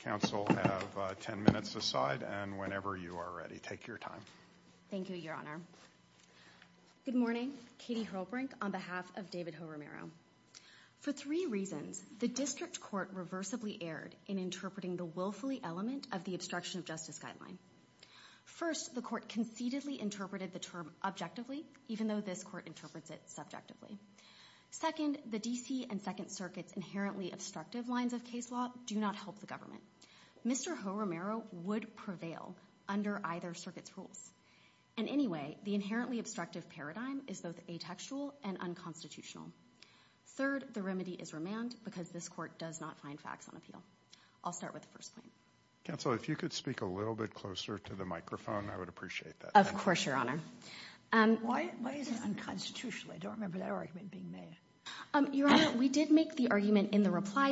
Counsel have ten minutes aside and whenever you are ready take your time. Thank you, Your Honor. Good morning, Katie Hrolbrink on behalf of David Ho-Romero. For three reasons, the district court reversibly erred in interpreting the willfully element of the obstruction of justice guideline. First, the court conceitedly interpreted the term objectively even though this court interprets it subjectively. Second, the DC and Second Circuits inherently obstructive lines of case law do not help the government. Mr. Ho-Romero would prevail under either circuit's rules. And anyway, the inherently obstructive paradigm is both atextual and unconstitutional. Third, the remedy is remand because this court does not find facts on appeal. I'll start with the first point. Counsel, if you could speak a little bit closer to the microphone I would appreciate that. Of course, Your Honor. Why is it unconstitutional? I don't And I'll just apply a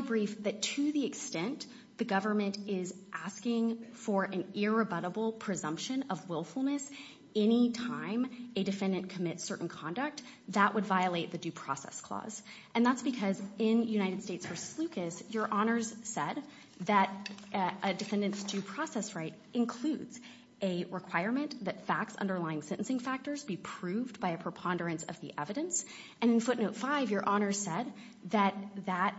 brief that to the extent the government is asking for an irrebutable presumption of willfulness anytime a defendant commits certain conduct that would violate the Due Process Clause. And that's because in United States v. Lucas Your Honor's said that a defendant's due process right includes a requirement that facts underlying sentencing factors be proved by a preponderance of the evidence. And in Footnote 5, Your Honor said that that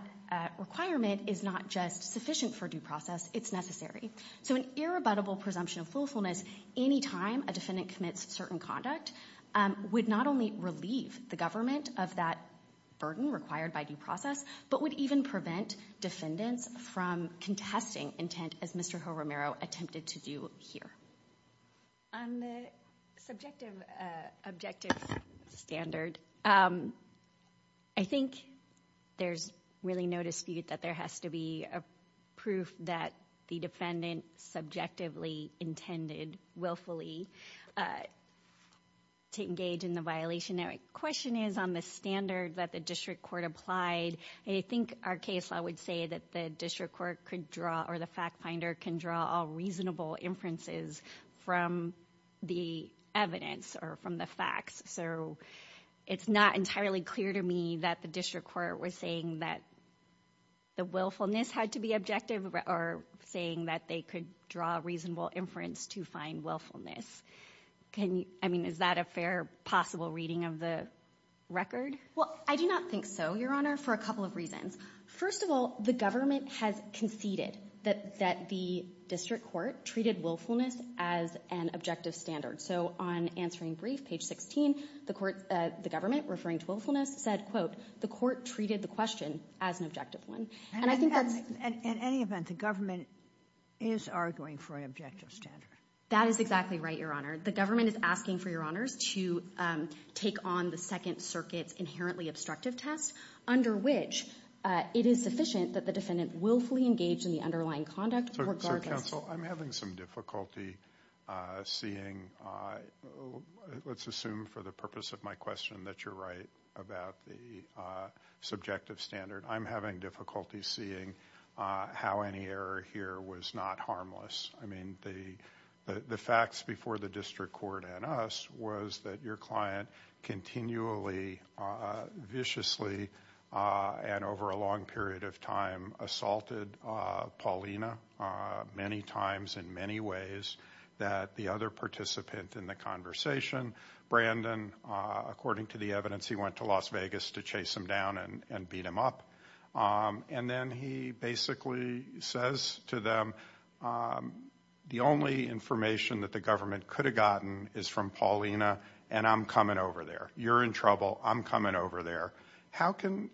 requirement is not just sufficient for due process, it's necessary. So an irrebutable presumption of willfulness anytime a defendant commits certain conduct would not only relieve the government of that burden required by due process, but would even prevent defendants from contesting intent as Mr. Romero attempted to do here. On the subjective objective standard, I think there's really no dispute that there has to be a proof that the defendant subjectively intended willfully to engage in the violation. The question is on the standard that the district court applied. I think our case law would say that the district court could draw or the fact finder can draw a reasonable inferences from the evidence or from the facts. So it's not entirely clear to me that the district court was saying that the willfulness had to be objective or saying that they could draw a reasonable inference to find willfulness. I mean, is that a fair possible reading of the record? Well, I do not think so, Your Honor, for a couple of reasons. First of all, the government has conceded that the district court treated willfulness as an objective standard. So on Answering Brief, page 16, the government, referring to willfulness, said, quote, the court treated the question as an objective one. In any event, the government is arguing for an objective standard. That is exactly right, Your Honor. The government is asking for Your Honors to take on the Second Circuit's inherently obstructive test, under which it is sufficient that the defendant willfully engaged in the underlying conduct. So counsel, I'm having some difficulty seeing, let's assume for the purpose of my question that you're right about the subjective standard. I'm having difficulty seeing how any error here was not harmless. I mean, the facts before the district court and us was that your client continually, viciously, and over a long period of time, assaulted Paulina many times in many ways, that the other participant in the conversation, Brandon, according to the evidence, he went to Las Vegas to chase him down and beat him up. And then he basically says to them, the only information that the government could have gotten is from Paulina, and I'm coming over there. You're in trouble. I'm coming over there. How can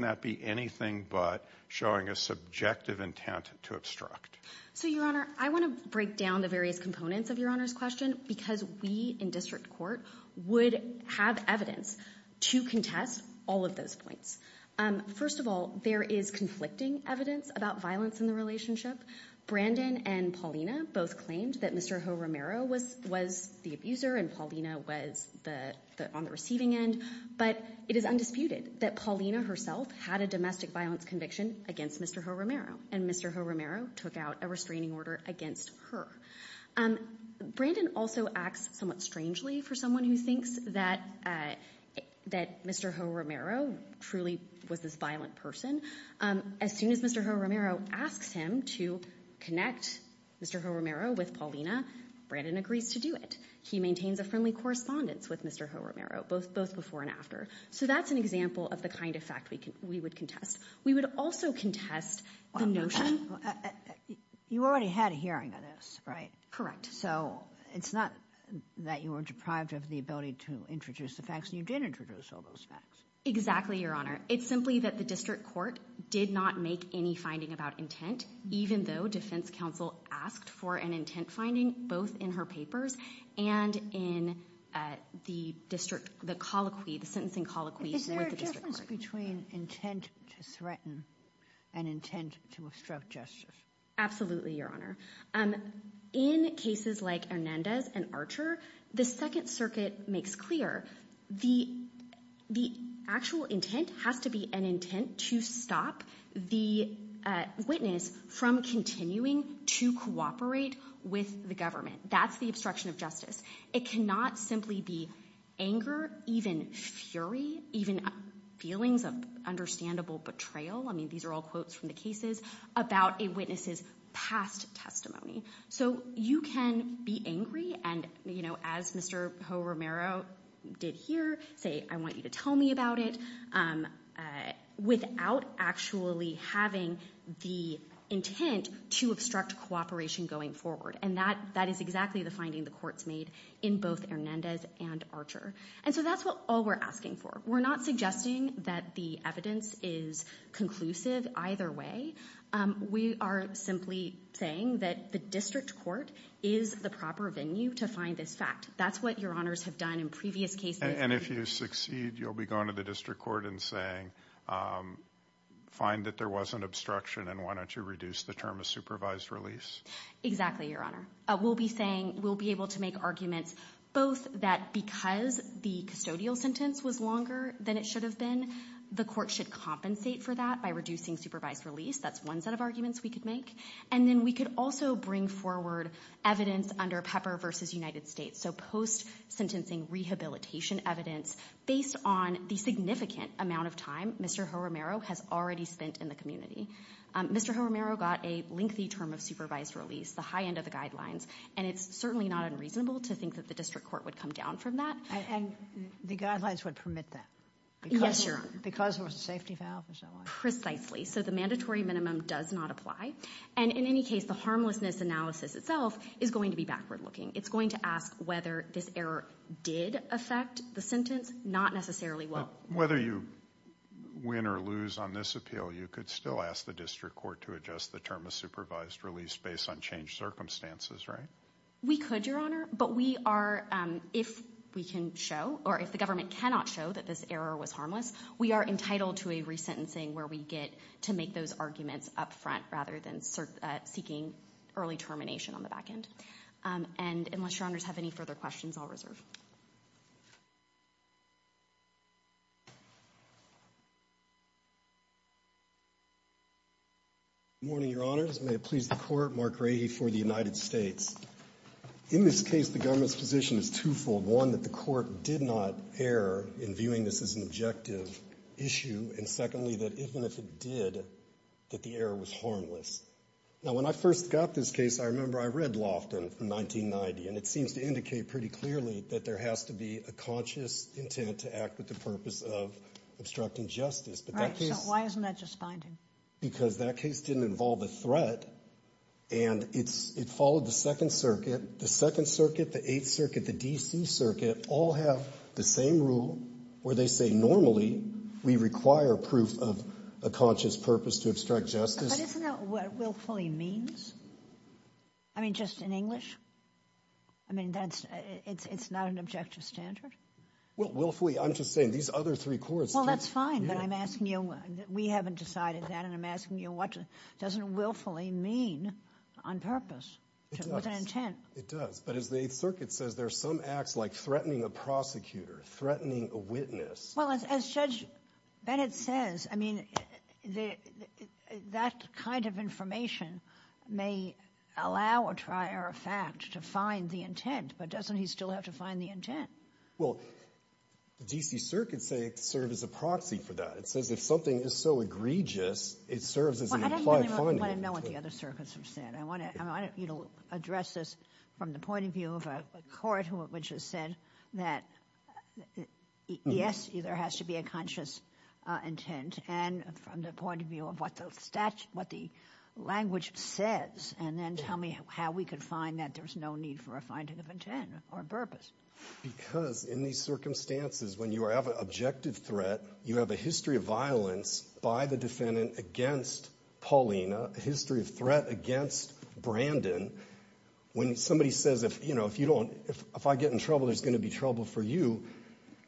that be anything but showing a subjective intent to obstruct? So Your Honor, I want to break down the various points. First of all, there is conflicting evidence about violence in the relationship. Brandon and Paulina both claimed that Mr. Romero was the abuser and Paulina was on the receiving end. But it is undisputed that Paulina herself had a domestic violence conviction against Mr. Romero, and Mr. Romero took out a restraining order against her. Brandon also acts somewhat strangely for someone who thinks that Mr. Romero truly was this violent person. As soon as Mr. Romero asks him to connect Mr. Romero with Paulina, Brandon agrees to do it. He maintains a friendly correspondence with Mr. Romero, both before and after. So that's an example of the kind of fact we would contest. We would also contest the notion... You already had a hearing on this, right? Correct. So it's not that you were deprived of the ability to introduce the facts. You did introduce all those facts. Exactly, Your Honor. It's simply that the district court did not make any finding about intent, even though defense counsel asked for an intent finding both in her papers and in the district, the colloquy, the sentencing colloquy. Is there a difference between intent to threaten and intent to obstruct justice? Absolutely, Your Honor. In cases like Hernandez and Archer, the Second Circuit makes clear the actual intent has to be an intent to stop the witness from continuing to cooperate with the government. That's the obstruction of justice. It cannot simply be anger, even fury, even feelings of understandable betrayal. I mean, these are all quotes from the cases about a witness's past testimony. So you can be angry, and as Mr. Romero did here, say, I want you to tell me about it, without actually having the intent to obstruct cooperation going forward. And that is exactly the finding the courts made in both Hernandez and Archer. And so that's all we're asking for. We're not suggesting that the evidence is conclusive either way. We are simply saying that the district court is the proper venue to find this fact. That's what Your Honors have done in previous cases. And if you succeed, you'll be going to the district court and saying, find that there was an obstruction and why don't you reduce the term of supervised release? Exactly, Your Honor. We'll be saying, we'll be able to make arguments both that because the custodial sentence was longer than it should have been, the court should compensate for that by reducing supervised release. That's one set of arguments we could make. And then we could also bring forward evidence under Pepper v. United States. So post-sentencing rehabilitation evidence based on the significant amount of time Mr. Romero has already spent in the community. Mr. Romero got a lengthy term of supervised release, the high end of the guidelines. And it's certainly not unreasonable to think that the district court would come down from that. And the guidelines would permit that? Yes, Your Honor. Because there was a safety valve or so on? Precisely. So the mandatory business analysis itself is going to be backward looking. It's going to ask whether this error did affect the sentence? Not necessarily. Whether you win or lose on this appeal, you could still ask the district court to adjust the term of supervised release based on changed circumstances, right? We could, Your Honor. But we are, if we can show, or if the government cannot show that this error was harmless, we are entitled to a resentencing where we get to make those arguments up front rather than seeking early termination on the back end. And unless Your Honors have any further questions, I'll reserve. Good morning, Your Honors. May it please the Court. Mark Rahe for the United States. In this case, the government's position is twofold. One, that the court did not err in viewing this as an objective issue. And secondly, that even if it did, that the error was harmless. Now, when I first got this case, I remember I read Lofton from 1990, and it seems to indicate pretty clearly that there has to be a conscious intent to act with the purpose of obstructing justice. Right. So why isn't that just binding? Because that case didn't involve a threat, and it followed the Second Circuit. The Second Rule, where they say normally we require proof of a conscious purpose to obstruct justice. But isn't that what willfully means? I mean, just in English? I mean, it's not an objective standard? Well, willfully, I'm just saying these other three courts. Well, that's fine, but I'm asking you, we haven't decided that, and I'm asking you, what doesn't willfully mean on purpose, with an intent? It does. But as the Eighth Circuit says, there's some acts like threatening a prosecutor, threatening a witness. Well, as Judge Bennett says, I mean, that kind of information may allow a trier of fact to find the intent, but doesn't he still have to find the intent? Well, the D.C. Circuit say it served as a proxy for that. It says if something is so egregious, it serves as an implied finding. Well, I don't really want to know what the other circuits have said. I want you to address this from the point of view of a court which has said that yes, there has to be a conscious intent, and from the point of view of what the language says, and then tell me how we could find that there's no need for a finding of intent or purpose. Because in these circumstances, when you have an objective threat, you have a history of violence by the defendant against Paulina, a history of threat against Brandon. When somebody says, you know, if I get in trouble, there's going to be trouble for you,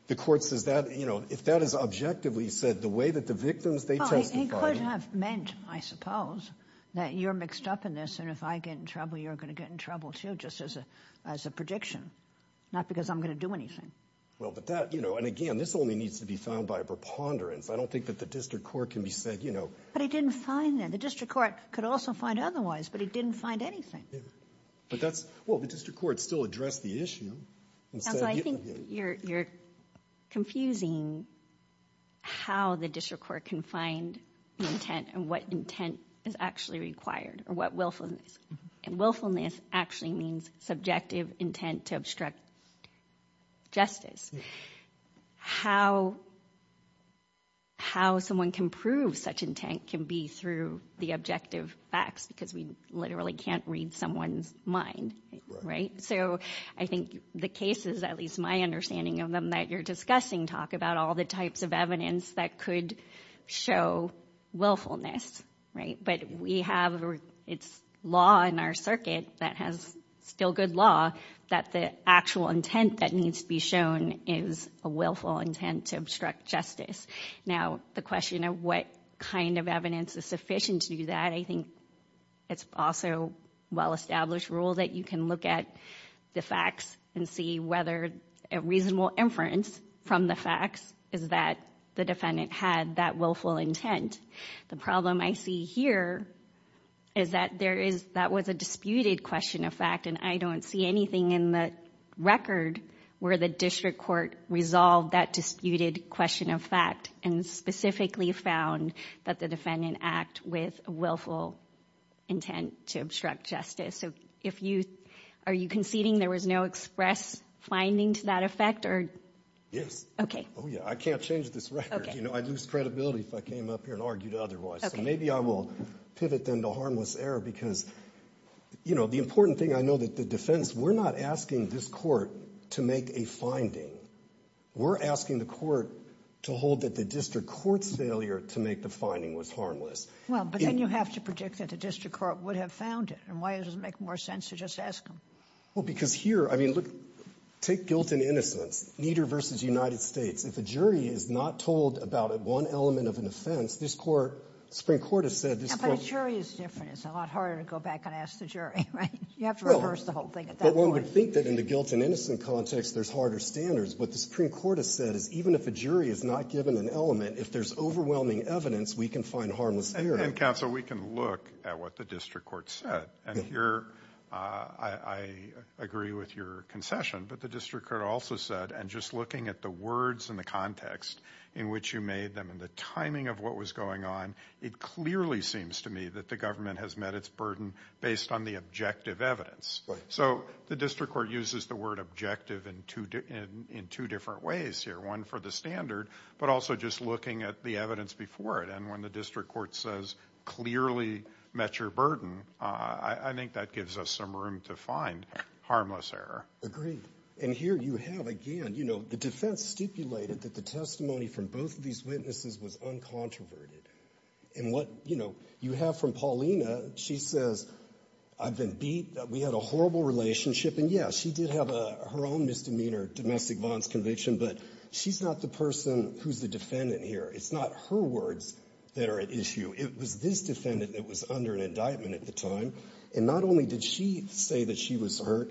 the court says that, you know, if that is objectively said, the way that the victims testified... Well, he could have meant, I suppose, that you're mixed up in this, and if I get in trouble, you're going to get in trouble, too, just as a prediction, not because I'm going to do anything. And again, this only needs to be found by a preponderance. I don't think that the district court can be said, you know... But he didn't find that. The district court could also find otherwise, but he didn't find anything. Well, the district court still addressed the issue. I think you're confusing how the district court can find intent and what intent is actually required, or what willfulness. And willfulness actually means subjective intent to obstruct justice. How someone can prove such intent can be through the objective facts, because we literally can't read someone's mind, right? So I think the cases, at least my understanding of them that you're discussing, talk about all the types of evidence that could show willfulness, right? But we have, it's law in our circuit that has still good law, that the actual intent that needs to be shown is a willful intent to obstruct justice. Now, the question of what kind of evidence is sufficient to do that, I think it's also a well-established rule that you can look at the facts and see whether a reasonable inference from the facts is that the defendant had that willful intent. The problem I see here is that there is, that was a disputed question of fact, and I don't see anything in the record where the district court resolved that disputed question of fact and specifically found that the defendant act with willful intent to obstruct justice. So if you, are you conceding there was no express finding to that effect? Yes. Oh yeah, I can't change this record. I'd lose credibility if I came up here and argued otherwise. So maybe I will pivot then to harmless error, because the important thing, I know that the defense, we're not asking this court to make a finding. We're asking the court to hold that the district court's failure to make the finding was harmless. Well, but then you have to predict that the district court would have found it, and why does it make more sense to just ask them? Well, because here, I mean, look, take guilt and innocence, Nieder v. United States. If a jury is not told about one element of an offense, this Court, the Supreme Court has said this Court But a jury is different. It's a lot harder to go back and ask the jury, right? You have to reverse the whole thing at that point. I would think that in the guilt and innocence context, there's harder standards. What the Supreme Court has said is even if a jury is not given an element, if there's overwhelming evidence, we can find harmless error. And counsel, we can look at what the district court said. And here, I agree with your concession, but the district court also said, and just looking at the words and the context in which you made them and the timing of what was going on, it clearly seems to me that the government has met its burden based on the objective evidence. So the district court uses the word objective in two different ways here, one for the standard, but also just looking at the evidence before it. And when the district court says clearly met your burden, I think that gives us some room to find harmless error. Agreed. And here you have, again, you know, the defense stipulated that the testimony from both of these witnesses was uncontroverted. And what, you know, you have from Paulina, she says, I've been beat. We had a horrible relationship. And, yes, she did have her own misdemeanor, domestic violence conviction, but she's not the person who's the defendant here. It's not her words that are at issue. It was this defendant that was under an indictment at the time. And not only did she say that she was hurt,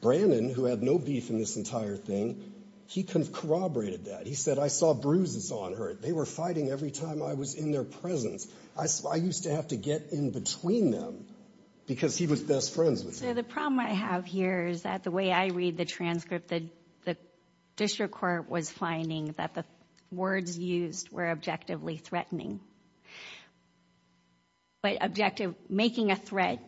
Brandon, who had no beef in this entire thing, he corroborated that. He said, I saw bruises on her. They were fighting every time I was in their presence. I used to have to get in between them because he was best friends with her. So the problem I have here is that the way I read the transcript, the district court was finding that the words used were objectively threatening. But objective, making a threat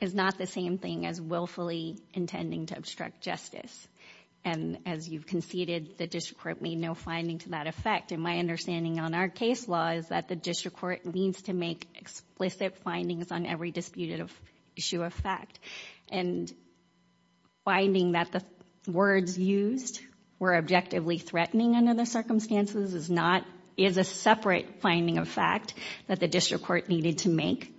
is not the same thing as willfully intending to obstruct justice. And as you've conceded, the district court made no finding to that effect. And my understanding on our case law is that the district court needs to make explicit findings on every disputed issue of fact. And finding that the words used were objectively threatening under the circumstances is a separate finding of fact that the district court needed to make.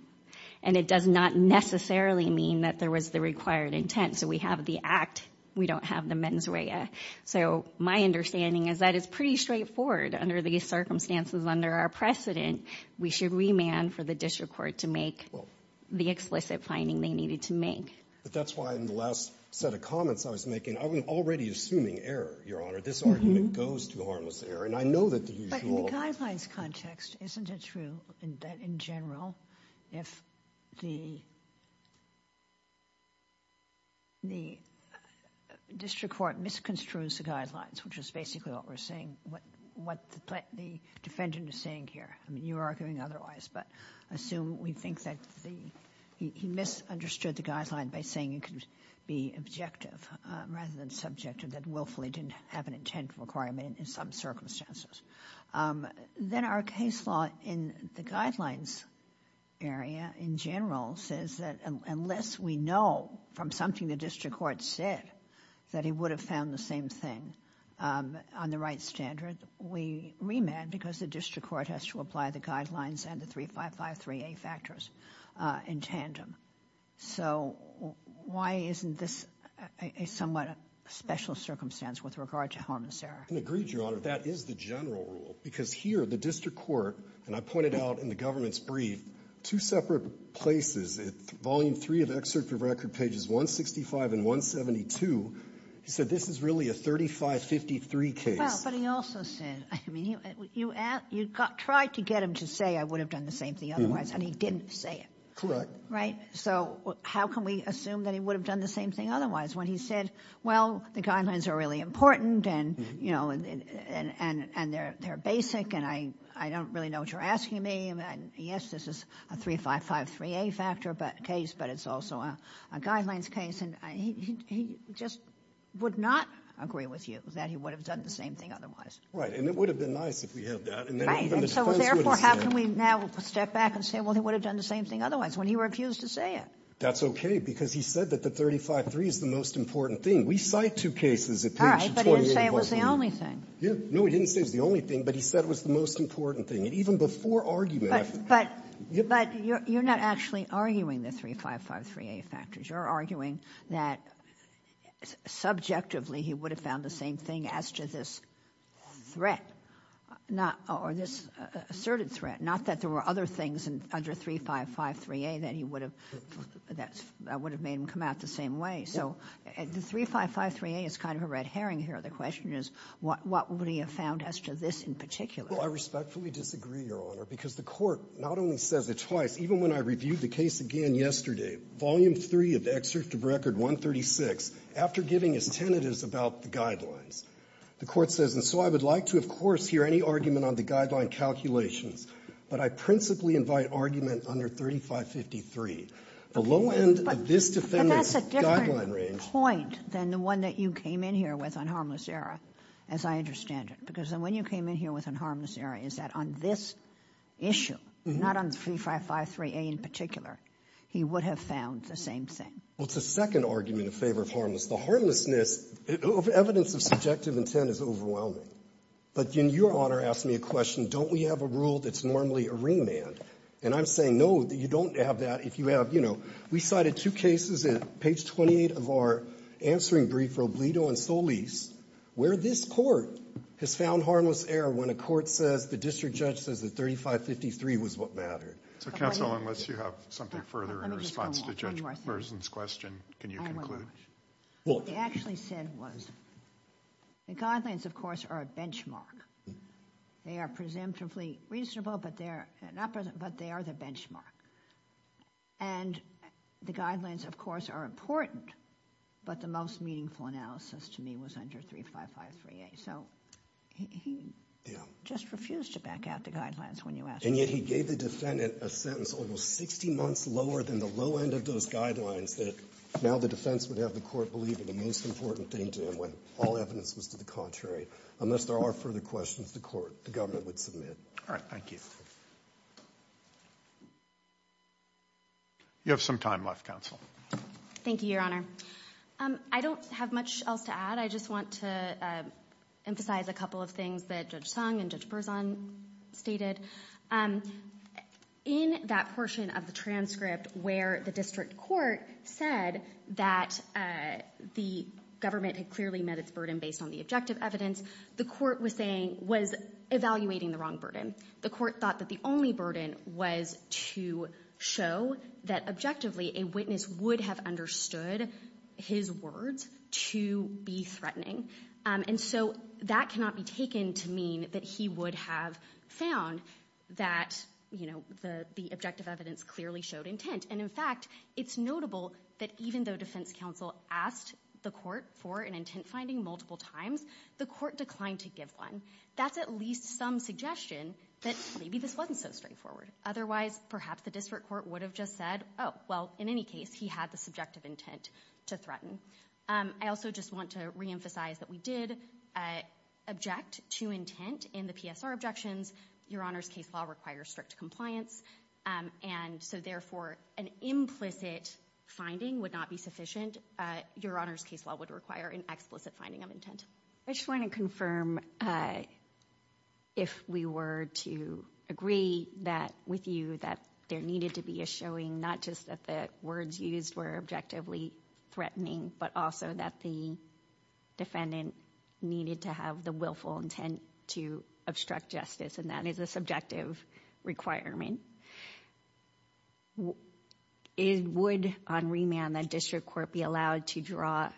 And it does not necessarily mean that there was the required intent. So we have the act. We don't have the mens rea. So my understanding is that it's pretty straightforward under these circumstances, under our precedent, we should remand for the district court to make the explicit finding they needed to make. But that's why in the last set of comments I was making, I was already assuming error, Your Honor. This argument goes to harmless error. And I know that the usual... Isn't it true that in general if the district court misconstrues the guidelines, which is basically what we're saying, what the defendant is saying here. I mean, you're arguing otherwise, but assume we think that he misunderstood the guidelines by saying it could be objective rather than subjective, that willfully didn't have an intent requirement in some circumstances. Then our case law in the guidelines area in general says that unless we know from something the district court said that he would have found the same thing on the right standard, we remand because the district court has to apply the guidelines and the 3553A factors in tandem. So why isn't this a somewhat special circumstance with regard to harmless error? I can agree, Your Honor, that is the general rule. Because here the district court, and I pointed out in the government's brief, two separate places, volume three of the excerpt from record, pages 165 and 172, he said this is really a 3553 case. Well, but he also said, I mean, you tried to get him to say I would have done the same thing otherwise, and he didn't say it. Correct. Right? So how can we assume that he would have done the same thing otherwise when he said, well, the guidelines are really important and, you know, and they're basic and I don't really know what you're asking me. Yes, this is a 3553A factor case, but it's also a guidelines case. And he just would not agree with you that he would have done the same thing otherwise. Right. And it would have been nice if we had that. Right. That's okay, because he said that the 353 is the most important thing. We cite two cases at page 28. All right, but he didn't say it was the only thing. Yeah. No, he didn't say it was the only thing, but he said it was the most important thing. And even before argument, I've been ---- But you're not actually arguing the 3553A factors. You're arguing that subjectively he would have found the same thing as to this threat or this asserted threat, not that there were other things under 3553A that he would have ---- that would have made him come out the same way. So the 3553A is kind of a red herring here. The question is what would he have found as to this in particular. Well, I respectfully disagree, Your Honor, because the court not only says it twice, even when I reviewed the case again yesterday, Volume 3 of the Excerpt of Record 136, after giving his tentatives about the guidelines, the court says, and so I would like to, of course, hear any argument on the guideline calculations, but I principally invite argument under 3553. The low end of this defendant's guideline range ---- But that's a different point than the one that you came in here with on harmless error, as I understand it. Because the one you came in here with on harmless error is that on this issue, not on 3553A in particular, he would have found the same thing. Well, it's a second argument in favor of harmless. The harmlessness, evidence of subjective intent is overwhelming. But then Your Honor asked me a question, don't we have a rule that's normally a remand? And I'm saying, no, you don't have that. If you have, you know, we cited two cases at page 28 of our answering brief, Robledo and Solis, where this Court has found harmless error when a court says, the district judge says that 3553 was what mattered. So counsel, unless you have something further in response to Judge Mersen's question, can you conclude? What he actually said was, the guidelines, of course, are a benchmark. They are presumptively reasonable, but they are the benchmark. And the guidelines, of course, are important, but the most meaningful analysis to me was under 3553A. So he just refused to back out the guidelines when you asked him. And yet he gave the defendant a sentence almost 60 months lower than the low end of those guidelines that now the defense would have the court believe are the most important thing to him when all evidence was to the contrary. Unless there are further questions, the court, the government would submit. All right, thank you. You have some time left, counsel. Thank you, Your Honor. I don't have much else to add. I just want to emphasize a couple of things that Judge Sung and Judge Mersen stated. In that portion of the transcript where the district court said that the government had clearly met its burden based on the objective evidence, the court was evaluating the wrong burden. The court thought that the only burden was to show that, objectively, a witness would have understood his words to be threatening. And so that cannot be taken to mean that he would have found that, you know, the objective evidence clearly showed intent. And, in fact, it's notable that even though defense counsel asked the court for an intent finding multiple times, the court declined to give one. That's at least some suggestion that maybe this wasn't so straightforward. Otherwise, perhaps the district court would have just said, oh, well, in any case, he had the subjective intent to threaten. I also just want to reemphasize that we did object to intent in the PSR objections. Your Honor's case law requires strict compliance. And so, therefore, an implicit finding would not be sufficient. Your Honor's case law would require an explicit finding of intent. I just want to confirm if we were to agree that with you that there needed to be a showing, not just that the words used were objectively threatening, but also that the defendant needed to have the willful intent to obstruct justice, and that is a subjective requirement. Would, on remand, the district court be allowed to draw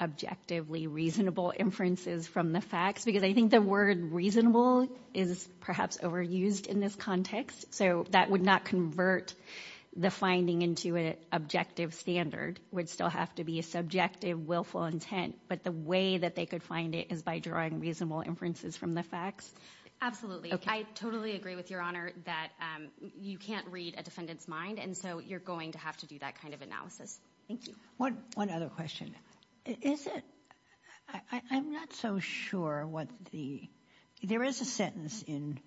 objectively reasonable inferences from the facts? Because I think the word reasonable is perhaps overused in this context. So that would not convert the finding into an objective standard. It would still have to be a subjective, willful intent. But the way that they could find it is by drawing reasonable inferences from the facts. Absolutely. I totally agree with Your Honor that you can't read a defendant's mind, and so you're going to have to do that kind of analysis. Thank you. One other question. Is it—I'm not so sure what the—there is a sentence in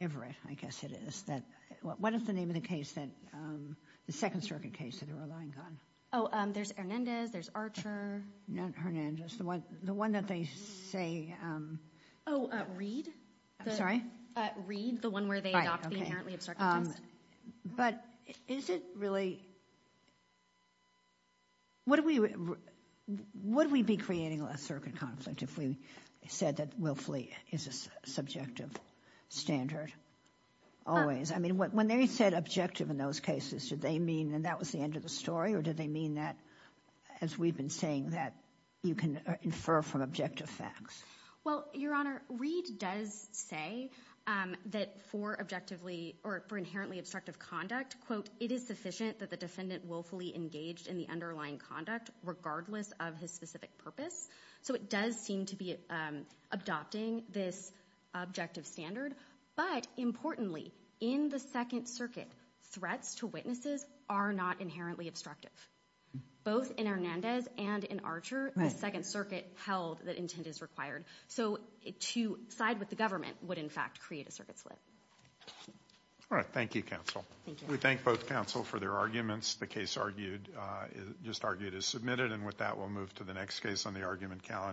Everett, I guess it is, that—what is the name of the case that—the Second Circuit case that they're relying on? Oh, there's Hernandez, there's Archer. Not Hernandez. The one that they say— Oh, Reed. I'm sorry? Reed, the one where they adopt the inherently absurd— But is it really—would we be creating a circuit conflict if we said that willfully is a subjective standard always? I mean, when they said objective in those cases, did they mean that that was the end of the story, or did they mean that, as we've been saying, that you can infer from objective facts? Well, Your Honor, Reed does say that for objectively—or for inherently obstructive conduct, quote, it is sufficient that the defendant willfully engaged in the underlying conduct regardless of his specific purpose. So it does seem to be adopting this objective standard. But importantly, in the Second Circuit, threats to witnesses are not inherently obstructive. Both in Hernandez and in Archer, the Second Circuit held that intent is required. So to side with the government would, in fact, create a circuit slip. All right. Thank you, counsel. Thank you. We thank both counsel for their arguments. The case argued—just argued is submitted. And with that, we'll move to the next case on the argument calendar.